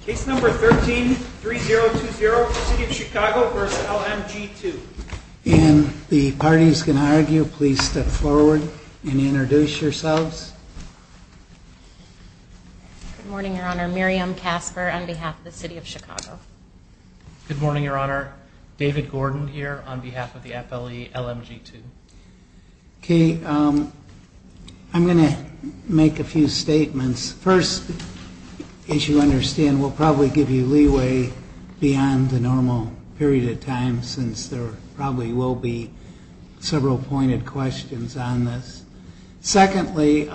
Case number 13-3020, City of Chicago v. LMG2 And the parties can argue, please step forward and introduce yourselves Good morning your honor, Miriam Casper on behalf of the City of Chicago Good morning your honor, David Gordon here on behalf of the FLE LMG2 Okay, I'm going to make a few statements First, as you understand, we'll probably give you leeway beyond the normal period of time Since there probably will be several pointed questions on this Secondly,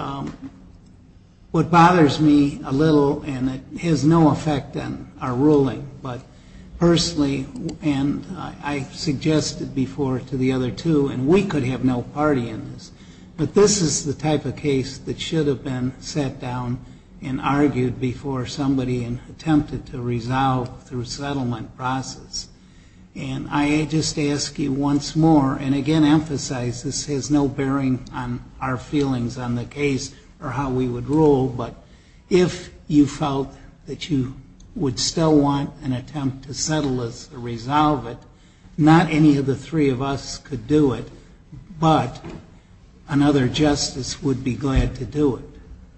what bothers me a little, and it has no effect on our ruling But personally, and I suggested before to the other two, and we could have no party in this But this is the type of case that should have been sat down and argued before somebody attempted to resolve through settlement process And I just ask you once more, and again emphasize this has no bearing on our feelings on the case or how we would rule But if you felt that you would still want an attempt to settle this or resolve it Not any of the three of us could do it, but another justice would be glad to do it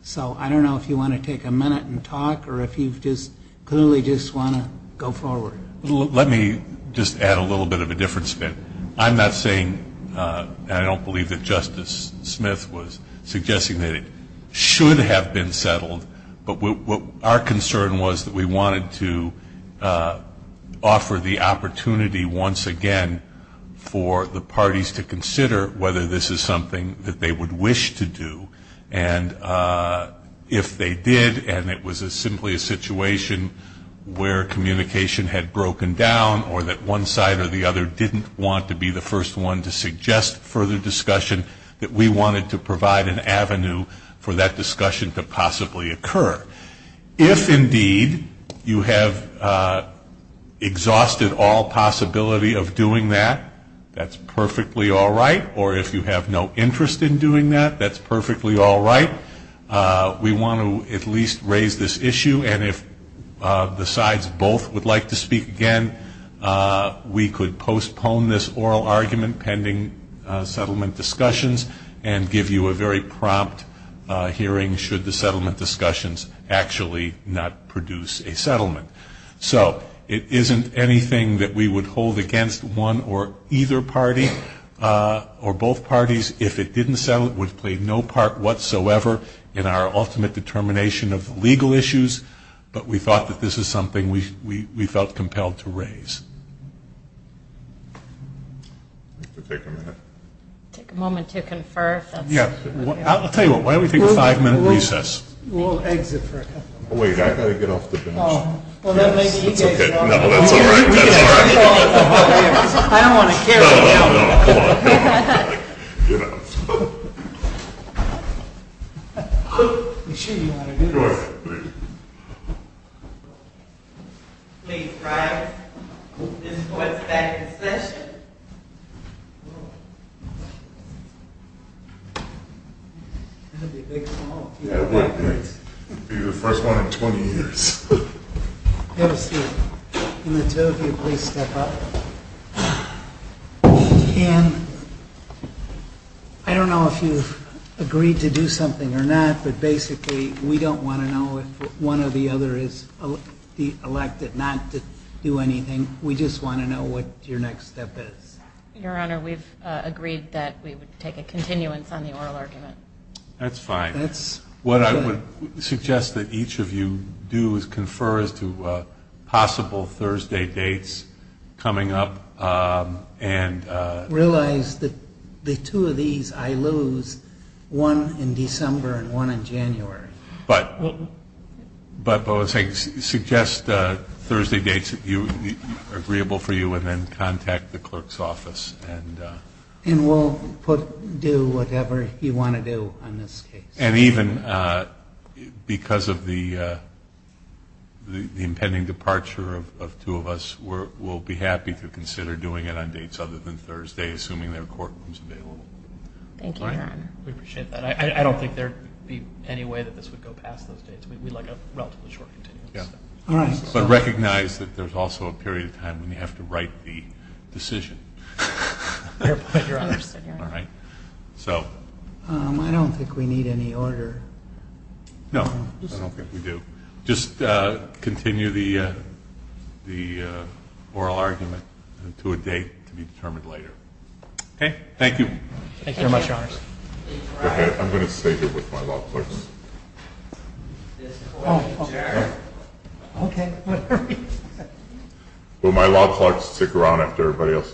So I don't know if you want to take a minute and talk or if you just clearly just want to go forward Let me just add a little bit of a difference then I'm not saying, and I don't believe that Justice Smith was suggesting that it should have been settled But our concern was that we wanted to offer the opportunity once again for the parties to consider Whether this is something that they would wish to do And if they did, and it was simply a situation where communication had broken down Or that one side or the other didn't want to be the first one to suggest further discussion That we wanted to provide an avenue for that discussion to possibly occur If indeed you have exhausted all possibility of doing that, that's perfectly all right Or if you have no interest in doing that, that's perfectly all right We want to at least raise this issue and if the sides both would like to speak again We could postpone this oral argument pending settlement discussions And give you a very prompt hearing should the settlement discussions actually not produce a settlement So it isn't anything that we would hold against one or either party or both parties If it didn't settle it would play no part whatsoever in our ultimate determination of legal issues But we thought that this is something we felt compelled to raise Take a moment to confer I'll tell you what, why don't we take a five minute recess We'll exit for a couple of minutes Oh wait, I've got to get off the bench Well then maybe you guys don't No, that's all right I don't want to carry you Come on, get up Make sure you know how to do this Please rise, this court is back in session That'll be a big small That'll be the first one in 20 years Have a seat, can the two of you please step up Ann, I don't know if you've agreed to do something or not But basically we don't want to know if one or the other is elected not to do anything We just want to know what your next step is Your Honor, we've agreed that we would take a continuance on the oral argument That's fine What I would suggest that each of you do is confer as to possible Thursday dates coming up Realize that the two of these I lose, one in December and one in January But I would suggest Thursday dates that are agreeable for you and then contact the clerk's office And we'll do whatever you want to do on this case And even because of the impending departure of two of us, we'll be happy to consider doing it on dates other than Thursday Assuming there are courtrooms available Thank you, Your Honor We appreciate that I don't think there'd be any way that this would go past those dates We'd like a relatively short continuance But recognize that there's also a period of time when you have to write the decision Fair point, Your Honor I don't think we need any order No, I don't think we do Just continue the oral argument to a date to be determined later Okay, thank you Thank you very much, Your Honor I'm going to stay here with my law clerks This court adjourned Okay, whatever you decide Will my law clerks stick around after everybody else leaves?